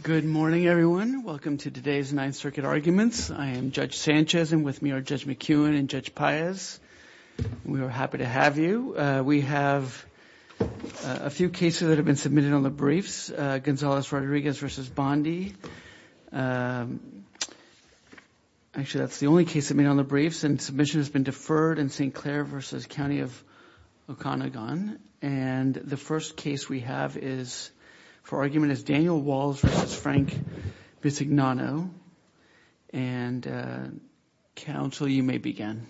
Good morning, everyone. Welcome to today's Ninth Circuit arguments. I am Judge Sanchez and with me are Judge McEwen and Judge Paez We are happy to have you we have a Few cases that have been submitted on the briefs Gonzalez Rodriguez versus Bondi Actually, that's the only case that made on the briefs and submission has been deferred in st. Clair versus County of Oconagon and the first case we have is For argument is Daniel Walls versus Frank Bisignano and Counsel you may begin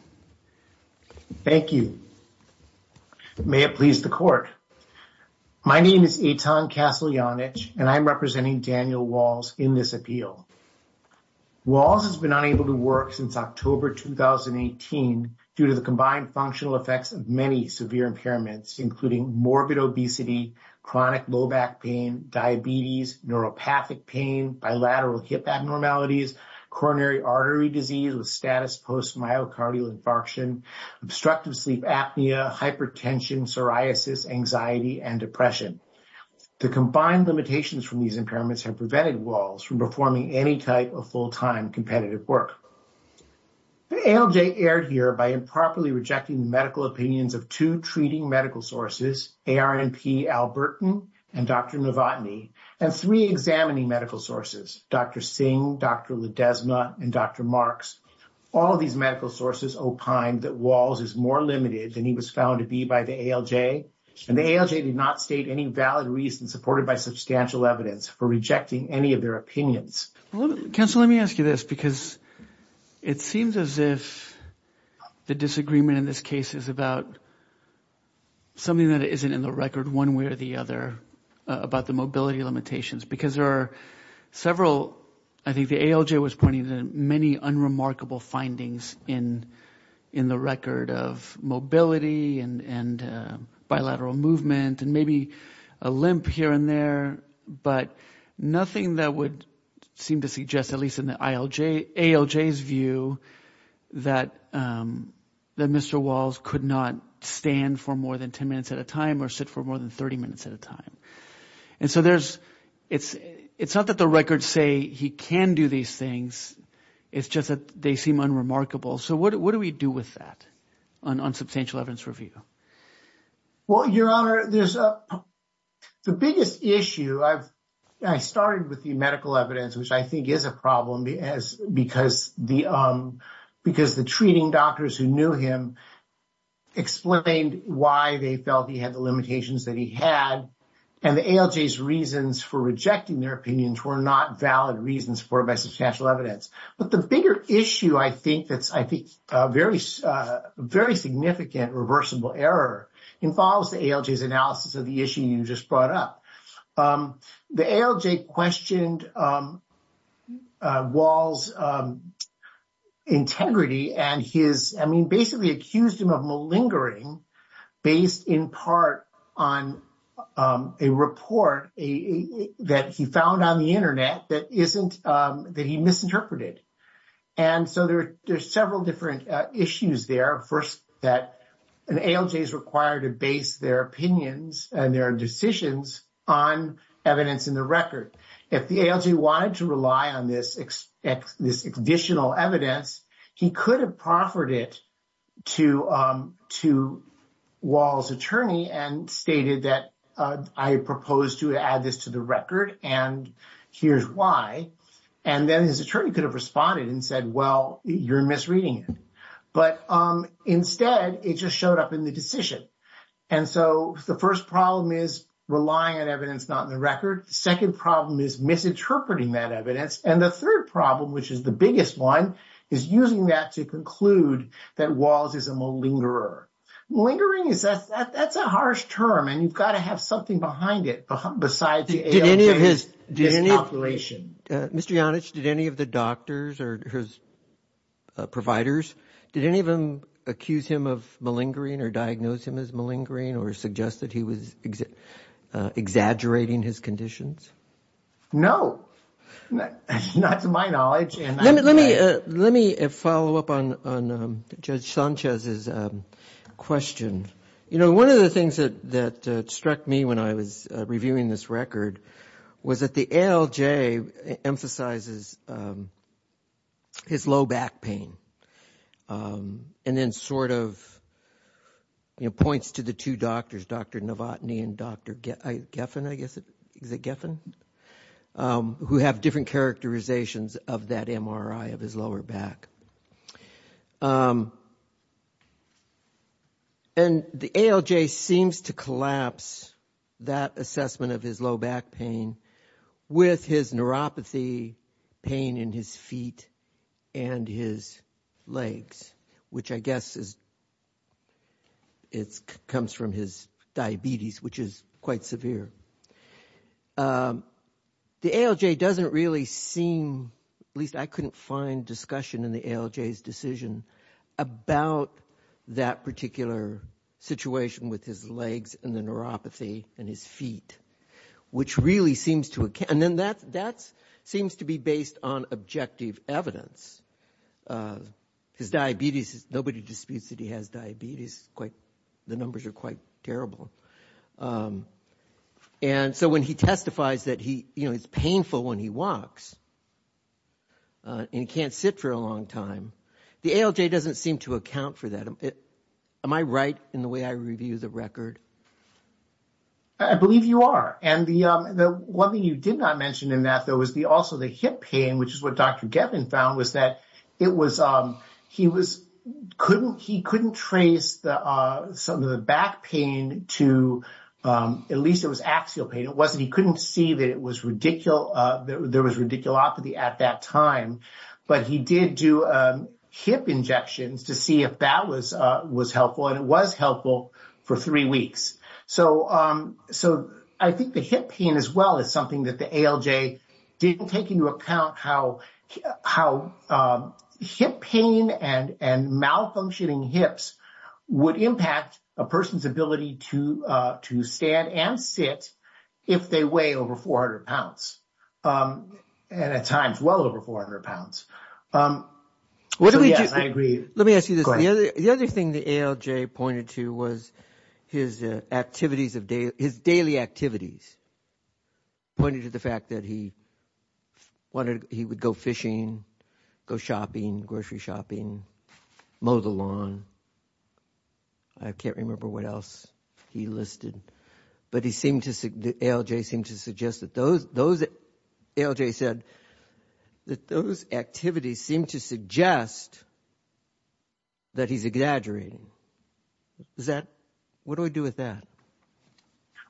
Thank you May it please the court My name is a Tom Castle Yonich, and I'm representing Daniel Walls in this appeal Walls has been unable to work since October 2018 due to the combined functional effects of many severe impairments including morbid obesity Chronic low back pain diabetes neuropathic pain bilateral hip abnormalities coronary artery disease with status post myocardial infarction obstructive sleep apnea hypertension psoriasis anxiety and depression The combined limitations from these impairments have prevented walls from performing any type of full-time competitive work The ALJ aired here by improperly rejecting the medical opinions of two treating medical sources ARNP Albertan and dr. Novotny and three examining medical sources. Dr. Singh. Dr. Ledesma and dr Marx all these medical sources opined that walls is more limited than he was found to be by the ALJ And the ALJ did not state any valid reason supported by substantial evidence for rejecting any of their opinions Counsel, let me ask you this because it seems as if the disagreement in this case is about Something that isn't in the record one way or the other about the mobility limitations because there are several I think the ALJ was pointing to many unremarkable findings in in the record of mobility and and bilateral movement and maybe a limp here and there but Nothing that would seem to suggest at least in the ILJ ALJ's view that That mr. Walls could not stand for more than 10 minutes at a time or sit for more than 30 minutes at a time And so there's it's it's not that the records say he can do these things It's just that they seem unremarkable. So what do we do with that on? unsubstantial evidence review well, your honor, there's a the biggest issue I've started with the medical evidence, which I think is a problem as because the Because the treating doctors who knew him Explained why they felt he had the limitations that he had and the ALJ's reasons for rejecting their opinions were not Valid reasons for by substantial evidence, but the bigger issue. I think that's I think very Very significant reversible error involves the ALJ's analysis of the issue. You just brought up The ALJ questioned Walls Integrity and his I mean basically accused him of malingering based in part on a report a that he found on the internet that isn't that he misinterpreted and So there there's several different issues there first that an ALJ is required to base their opinions and their decisions Evidence in the record if the ALJ wanted to rely on this This additional evidence. He could have proffered it to to Walls attorney and stated that I proposed to add this to the record and Here's why and then his attorney could have responded and said well, you're misreading it But um instead it just showed up in the decision And so the first problem is relying on evidence not in the record second problem is Misinterpreting that evidence and the third problem, which is the biggest one is using that to conclude that walls is a malingerer Lingering is that that's a harsh term and you've got to have something behind it besides the ALJ's Miscalculation. Mr. Yonish did any of the doctors or his Providers did any of them accuse him of malingering or diagnosed him as malingering or suggest that he was Exaggerating his conditions No Not to my knowledge and let me let me follow up on Judge Sanchez's Question, you know, one of the things that that struck me when I was reviewing this record was that the ALJ emphasizes His low back pain and then sort of You know points to the two doctors. Dr. Novotny and dr. Get I Geffen I guess it is a Geffen Who have different characterizations of that MRI of his lower back? And The ALJ seems to collapse that assessment of his low back pain with his neuropathy pain in his feet and his legs, which I guess is It comes from his diabetes, which is quite severe The ALJ doesn't really seem at least I couldn't find discussion in the ALJ's decision about that particular Situation with his legs and the neuropathy and his feet Which really seems to account and then that's that's seems to be based on objective evidence His diabetes is nobody disputes that he has diabetes quite the numbers are quite terrible And so when he testifies that he you know, it's painful when he walks And he can't sit for a long time the ALJ doesn't seem to account for that it am I right in the way I review the record I Believe you are and the the one thing you did not mention in that there was the also the hip pain Which is what? Dr. Geffen found was that it was um, he was couldn't he couldn't trace the some of the back pain to At least it was axial pain. It wasn't he couldn't see that. It was ridicule. There was ridiculopathy at that time but he did do a Hip injections to see if that was was helpful and it was helpful for three weeks so so I think the hip pain as well as something that the ALJ didn't take into account how how hip pain and and malfunctioning hips Would impact a person's ability to to stand and sit if they weigh over 400 pounds And at times well over 400 pounds Um What do we agree? Let me ask you this the other thing the ALJ pointed to was his activities of day his daily activities pointed to the fact that he Wanted he would go fishing go shopping grocery shopping mow the lawn I Can't remember what else he listed but he seemed to say the ALJ seemed to suggest that those those ALJ said That those activities seem to suggest That he's exaggerating Is that what do I do with that?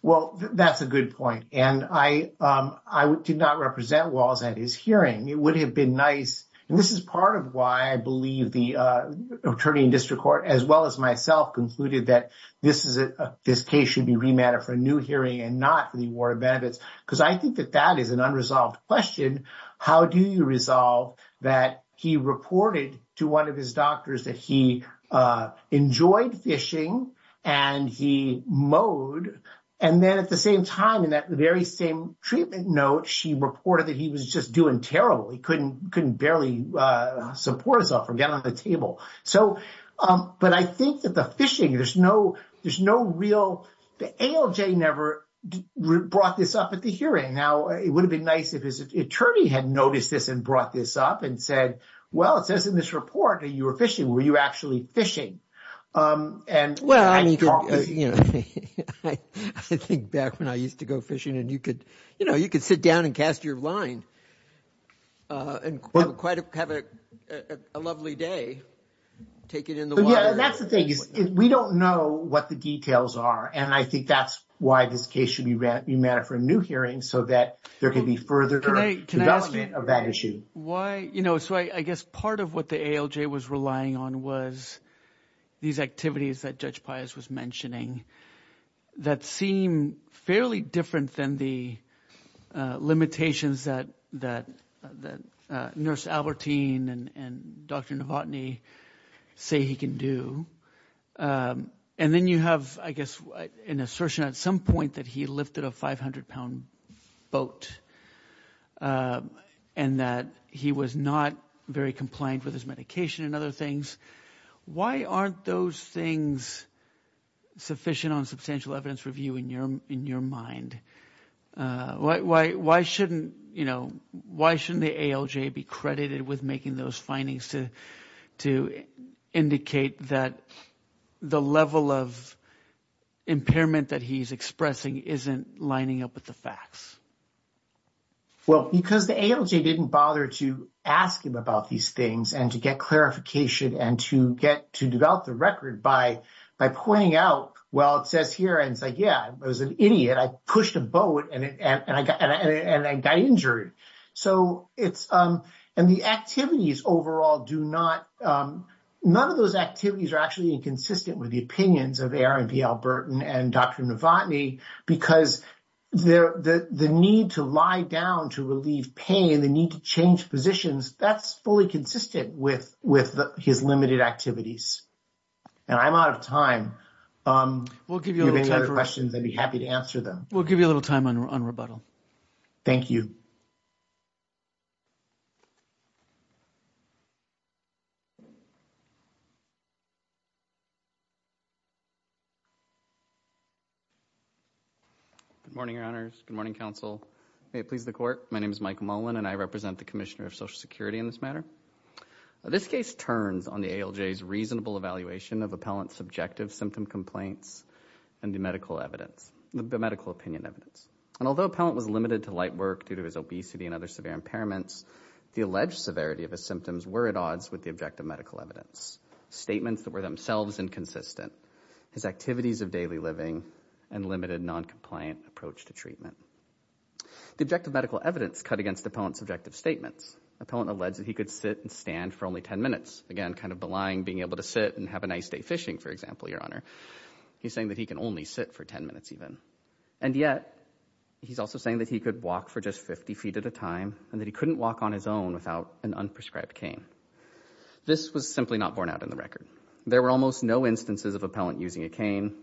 Well, that's a good point. And I I did not represent walls at his hearing it would have been nice and this is part of why I believe the Attorney in District Court as well as myself concluded that this is it This case should be remanded for a new hearing and not for the award of benefits because I think that that is an unresolved question How do you resolve that? he reported to one of his doctors that he enjoyed fishing and He mowed and then at the same time in that the very same treatment note She reported that he was just doing terrible. He couldn't couldn't barely Support himself or get on the table. So, um, but I think that the fishing there's no there's no real the ALJ never Brought this up at the hearing now It would have been nice if his attorney had noticed this and brought this up and said well It says in this report that you were fishing. Were you actually fishing? and well, I Think back when I used to go fishing and you could you know, you could sit down and cast your line and quite a lovely day That's the thing we don't know what the details are and I think that's why this case should be read you matter for a new Hearing so that there can be further Why you know, so I guess part of what the ALJ was relying on was These activities that judge Pius was mentioning that seem fairly different than the Limitations that that that nurse Albertine and and dr. Novotny Say he can do And then you have I guess an assertion at some point that he lifted a 500-pound boat And that he was not very compliant with his medication and other things. Why aren't those things? Sufficient on substantial evidence review in your in your mind Why why shouldn't you know? Why shouldn't the ALJ be credited with making those findings to to? Indicate that the level of Impairment that he's expressing isn't lining up with the facts Well because the ALJ didn't bother to ask him about these things and to get Clarification and to get to develop the record by by pointing out. Well, it says here and it's like yeah, it was an idiot I pushed a boat and I got and I got injured so it's um and the activities overall do not none of those activities are actually inconsistent with the opinions of Aaron P Albert and and dr. Novotny because They're the the need to lie down to relieve pain the need to change positions That's fully consistent with with his limited activities And I'm out of time We'll give you any other questions. I'd be happy to answer them. We'll give you a little time on rebuttal. Thank you You Good morning, your honors. Good morning counsel. May it please the court? My name is Mike Mullen and I represent the Commissioner of Social Security in this matter this case turns on the ALJ's reasonable evaluation of appellant subjective symptom complaints and The medical evidence the medical opinion evidence and although appellant was limited to light work due to his obesity and other severe impairments The alleged severity of his symptoms were at odds with the objective medical evidence Statements that were themselves inconsistent his activities of daily living and limited non-compliant approach to treatment The objective medical evidence cut against the point subjective statements Appellant alleged that he could sit and stand for only 10 minutes again kind of the line being able to sit and have a nice Day fishing for example, your honor. He's saying that he can only sit for 10 minutes even and yet He's also saying that he could walk for just 50 feet at a time and that he couldn't walk on his own without an unprescribed cane This was simply not borne out in the record There were almost no instances of appellant using a cane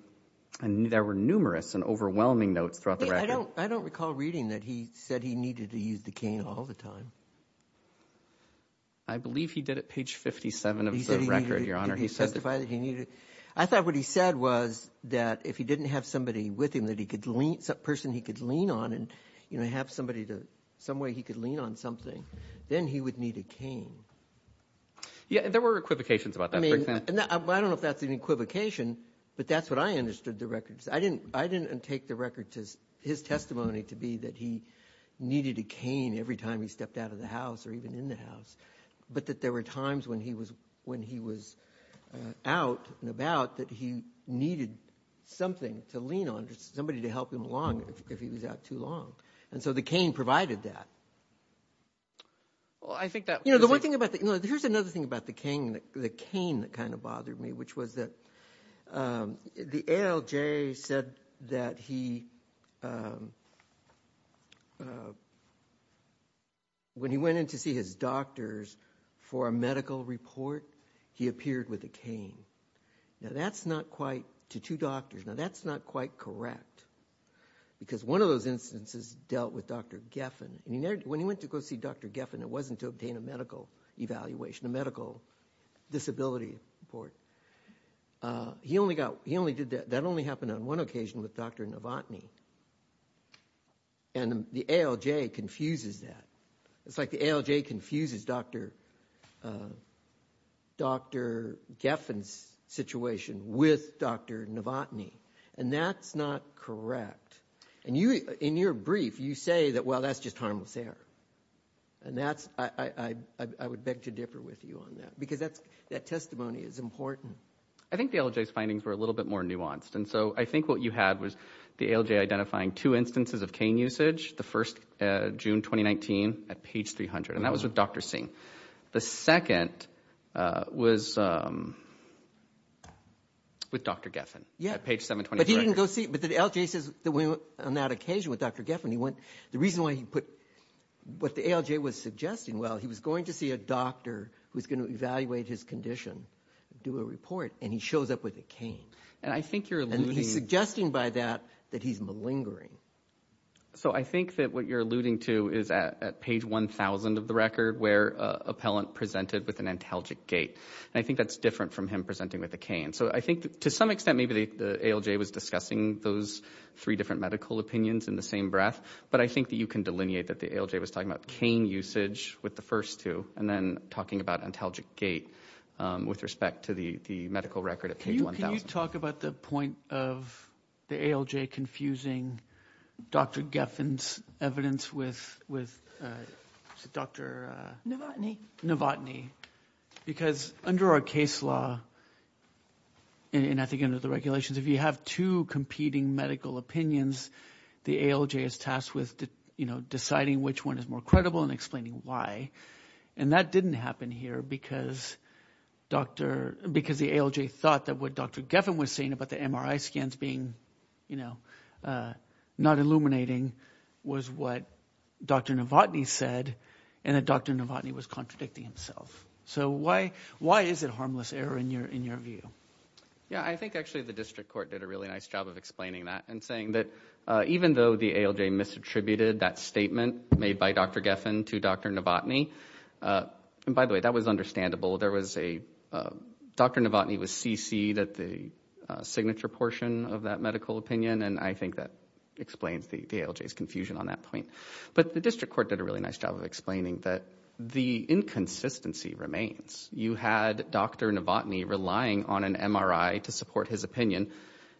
and there were numerous and overwhelming notes throughout I don't I don't recall reading that. He said he needed to use the cane all the time. I Believe he did it page 57 of the record your honor He said if I that he needed I thought what he said was That if he didn't have somebody with him that he could leave some person he could lean on and you know Have somebody to some way he could lean on something then he would need a cane Yeah, there were equivocations about that. I mean, I don't know if that's an equivocation, but that's what I understood the records I didn't I didn't take the record to his testimony to be that he Needed a cane every time he stepped out of the house or even in the house but that there were times when he was when he was Out and about that he needed Something to lean on just somebody to help him along if he was out too long. And so the cane provided that Well, I think that you know the one thing about that, you know here's another thing about the cane the cane that kind of bothered me, which was that the ALJ said that he When he When he went in to see his doctors for a medical report he appeared with a cane Now that's not quite to two doctors. Now. That's not quite correct Because one of those instances dealt with dr. Geffen and he never when he went to go see dr. Geffen It wasn't to obtain a medical evaluation a medical disability report He only got he only did that that only happened on one occasion with dr. Novotny and The ALJ confuses that it's like the ALJ confuses dr. Dr. Geffen's Situation with dr. Novotny and that's not correct and you in your brief you say that well, that's just harmless air and that's I Would beg to differ with you on that because that's that testimony is important I think the ALJ's findings were a little bit more nuanced And so I think what you had was the ALJ identifying two instances of cane usage the first June 2019 at page 300 and that was with dr. Singh the second was With dr. Geffen yeah page 720 but he didn't go see but the ALJ says that we went on that occasion with dr. Geffen he went the reason why he put What the ALJ was suggesting? Well, he was going to see a doctor who's going to evaluate his condition Do a report and he shows up with a cane and I think you're suggesting by that that he's malingering So I think that what you're alluding to is at page 1,000 of the record where appellant presented with an antalgic gait I think that's different from him presenting with a cane So I think to some extent maybe the ALJ was discussing those three different medical opinions in the same breath But I think that you can delineate that the ALJ was talking about cane usage with the first two and then talking about antalgic gait With respect to the the medical record of you. Can you talk about the point of the ALJ confusing? dr. Geffen's evidence with with dr. Novotny Novotny because under our case law And I think under the regulations if you have two competing medical opinions the ALJ is tasked with you know deciding which one is more credible and explaining why and that didn't happen here because Doctor because the ALJ thought that what dr. Geffen was saying about the MRI scans being you know Not illuminating was what dr. Novotny said and that dr. Novotny was contradicting himself So why why is it harmless error in your in your view? Yeah I think actually the district court did a really nice job of explaining that and saying that even though the ALJ Misattributed that statement made by dr. Geffen to dr. Novotny And by the way, that was understandable there was a dr. Novotny was CC that the Signature portion of that medical opinion and I think that explains the ALJ is confusion on that point But the district court did a really nice job of explaining that the inconsistency remains you had dr Novotny relying on an MRI to support his opinion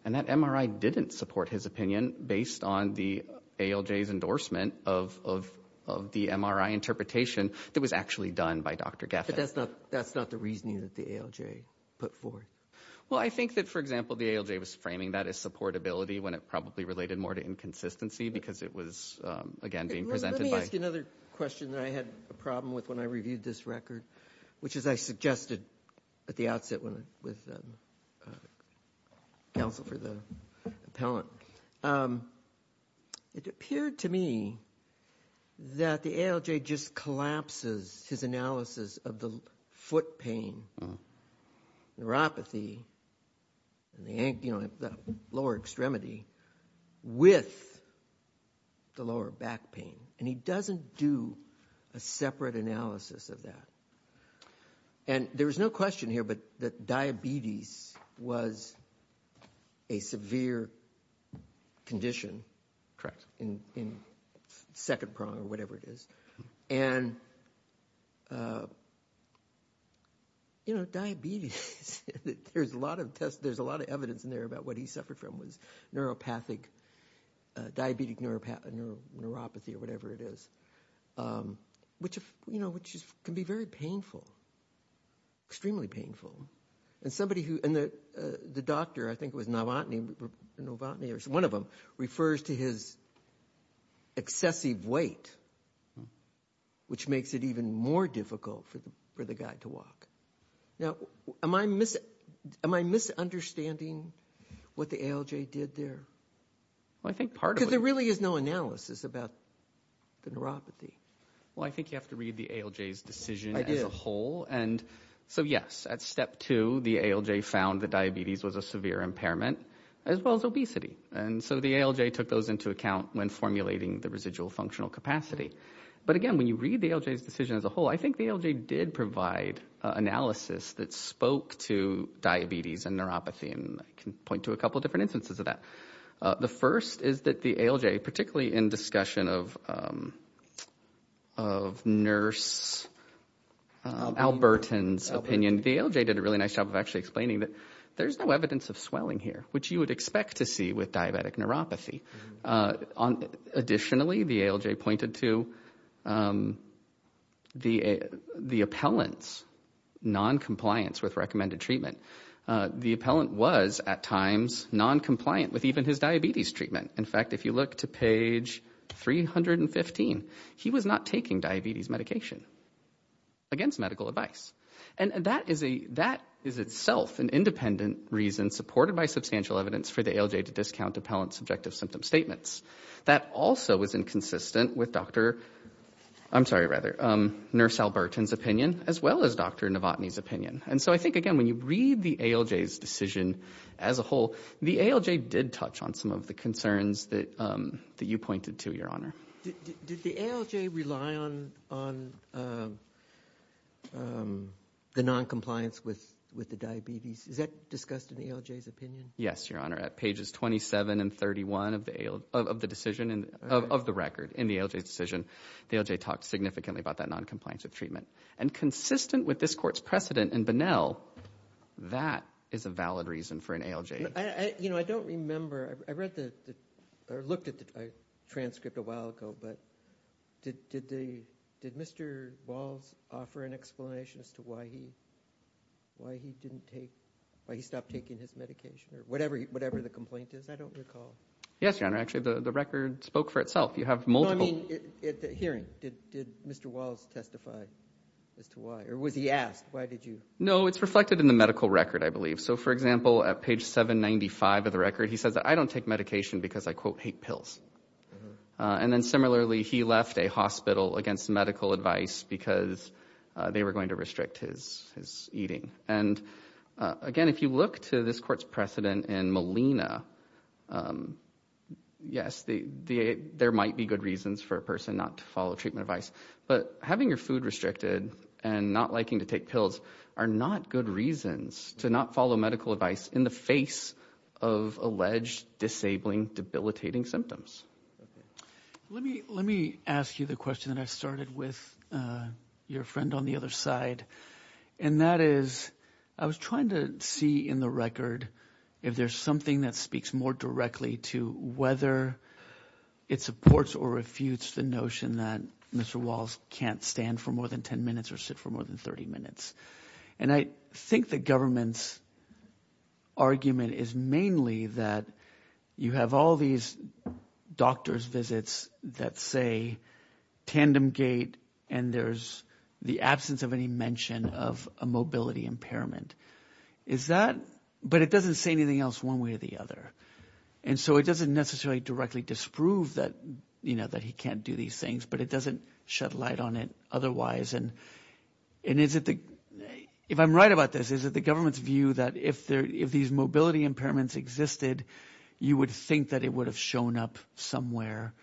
and that MRI didn't support his opinion based on the ALJ's endorsement of The MRI interpretation that was actually done by dr. Geffen, that's not that's not the reasoning that the ALJ put forth Well, I think that for example, the ALJ was framing that as support ability when it probably related more to inconsistency because it was Again being presented another question that I had a problem with when I reviewed this record which as I suggested at the outset when with Counsel for the appellant It appeared to me That the ALJ just collapses his analysis of the foot pain Neuropathy And they ain't you know, I've got lower extremity with the lower back pain and he doesn't do a separate analysis of that and there was no question here, but that diabetes was a severe condition correct in Second prong or whatever it is and You know diabetes There's a lot of tests. There's a lot of evidence in there about what he suffered from was neuropathic Diabetic neuropathy or whatever it is Which if you know, which is can be very painful Extremely painful and somebody who and the the doctor I think was not wanting Novotny or so one of them refers to his excessive weight Which makes it even more difficult for the for the guy to walk now, am I miss it? Am I? Misunderstanding what the ALJ did there? Well, I think part of there really is no analysis about The neuropathy. Well, I think you have to read the ALJ's decision I did a whole and so yes at step to the ALJ found that diabetes was a severe impairment As well as obesity and so the ALJ took those into account when formulating the residual functional capacity But again, when you read the ALJ's decision as a whole, I think the ALJ did provide analysis that spoke to Diabetes and neuropathy and I can point to a couple of different instances of that the first is that the ALJ particularly in discussion of Nurse Albertans opinion the ALJ did a really nice job of actually explaining that there's no evidence of swelling here Which you would expect to see with diabetic neuropathy on additionally the ALJ pointed to The the appellants Non-compliance with recommended treatment the appellant was at times non-compliant with even his diabetes treatment. In fact, if you look to page 315 he was not taking diabetes medication Against medical advice and that is a that is itself an independent Reason supported by substantial evidence for the ALJ to discount appellant subjective symptom statements. That also was inconsistent with dr I'm sorry rather nurse Albertans opinion as well as dr. Novotny's opinion and so I think again when you read the ALJ's decision as a whole the ALJ did touch on some of the concerns that That you pointed to your honor The Non-compliance with with the diabetes is that discussed in the ALJ's opinion? Yes, your honor at pages 27 and 31 of the ale of the decision and of the record in the ALJ's decision The ALJ talked significantly about that non-compliance of treatment and consistent with this court's precedent and Bunnell That is a valid reason for an ALJ. I you know, I don't remember I read the looked at the transcript a while ago, but Did they did mr. Walls offer an explanation as to why he Why he didn't take why he stopped taking his medication or whatever. Whatever the complaint is. I don't recall Yes, your honor. Actually the the record spoke for itself. You have multiple Hearing did mr. Walls testify as to why or was he asked? Why did you know it's reflected in the medical record? I believe so for example at page 795 of the record. He says I don't take medication because I quote hate pills And then similarly he left a hospital against medical advice because they were going to restrict his his eating and Again, if you look to this court's precedent in Molina Yes, the the there might be good reasons for a person not to follow treatment advice but having your food restricted and not liking to take pills are not good reasons to not follow medical advice in the face of alleged disabling debilitating symptoms Let me let me ask you the question that I started with your friend on the other side and that is I was trying to see in the record if there's something that speaks more directly to whether It supports or refutes the notion that mr Walls can't stand for more than 10 minutes or sit for more than 30 minutes, and I think the government's Argument is mainly that you have all these Doctors visits that say tandem gate and there's the absence of any mention of a mobility impairment is That but it doesn't say anything else one way or the other and so it doesn't necessarily directly disprove that you know that he can't do these things, but it doesn't shed light on it otherwise and And is it the if I'm right about this is that the government's view that if there if these mobility impairments existed You would think that it would have shown up somewhere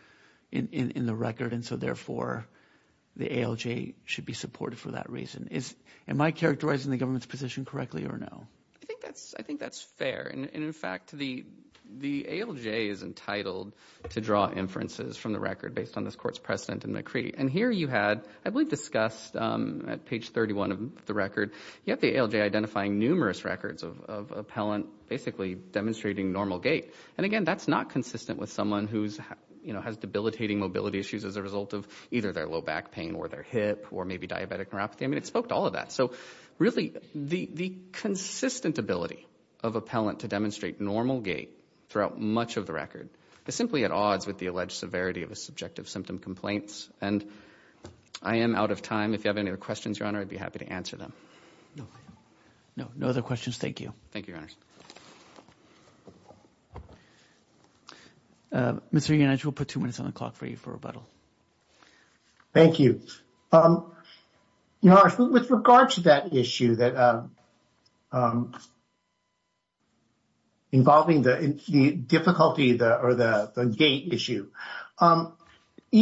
in the record and so therefore The ALJ should be supported for that reason is am I characterizing the government's position correctly or no? I think that's I think that's fair and in fact the The ALJ is entitled to draw inferences from the record based on this courts precedent and McCree and here you had I believe discussed at page 31 of the record yet the ALJ identifying numerous records of Appellant basically demonstrating normal gait and again, that's not consistent with someone who's you know Has debilitating mobility issues as a result of either their low back pain or their hip or maybe diabetic neuropathy? I mean it spoke to all of that. So really the consistent ability of Appellant to demonstrate normal gait throughout much of the record is simply at odds with the alleged severity of a subjective symptom complaints and I Am out of time if you have any other questions your honor. I'd be happy to answer them No, no, no other questions, thank you. Thank you Mr. You know, I will put two minutes on the clock for you for rebuttal. Thank you You know with regard to that issue that Involving the difficulty the or the the gate issue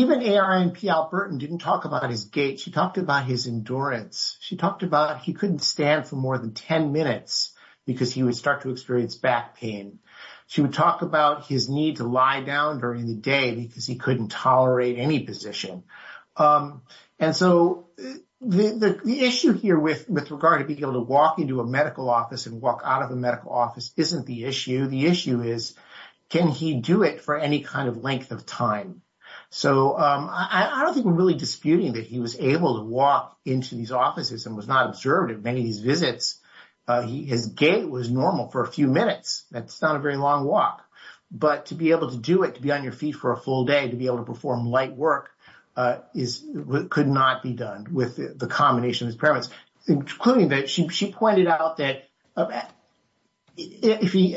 Even AI and P Albertan didn't talk about his gait. She talked about his endurance She talked about he couldn't stand for more than 10 minutes because he would start to experience back pain She would talk about his need to lie down during the day because he couldn't tolerate any position and so the issue here with with regard to be able to walk into a medical office and walk out of the medical office isn't the issue the issue is Can he do it for any kind of length of time So, I don't think we're really disputing that he was able to walk into these offices and was not observed at many of his visits He is gay was normal for a few minutes That's not a very long walk But to be able to do it to be on your feet for a full day to be able to perform light work Is what could not be done with the combination of experiments including that she pointed out that If he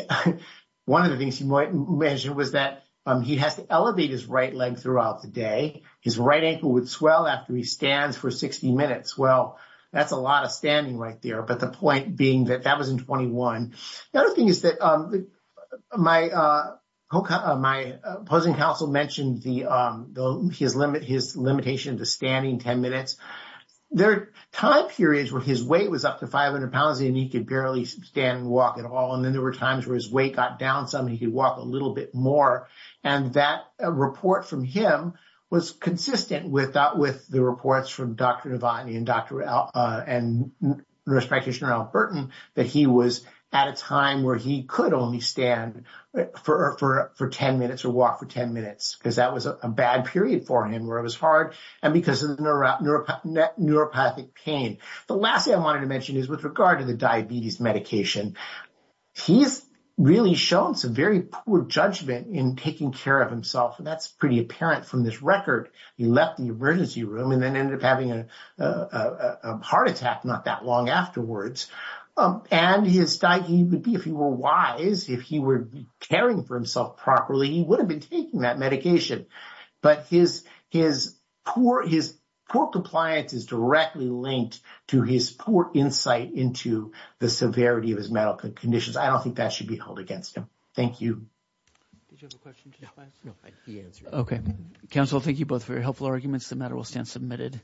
One of the things you might measure was that he has to elevate his right leg throughout the day His right ankle would swell after he stands for 60 minutes Well, that's a lot of standing right there. But the point being that that was in 21. The other thing is that my Hoka my opposing counsel mentioned the though his limit his limitation to standing 10 minutes Their time periods where his weight was up to 500 pounds and he could barely stand walk at all and then there were times where his weight got down some he could walk a little bit more and that a report from him was consistent with that with the reports from dr. Devine and dr. L and Respectation or Albertan that he was at a time where he could only stand for for for 10 minutes or walk for 10 minutes because that was a bad period for him where it was hard and because of Neuropathic pain the last thing I wanted to mention is with regard to the diabetes medication He's really shown some very poor judgment in taking care of himself. That's pretty apparent from this record he left the emergency room and then ended up having a heart attack not that long afterwards And his diet would be if he were wise if he were caring for himself properly He would have been taking that medication But his his poor his poor compliance is directly linked to his poor insight into The severity of his medical conditions. I don't think that should be held against him. Thank you Okay counsel, thank you both very helpful arguments the matter will stand submitted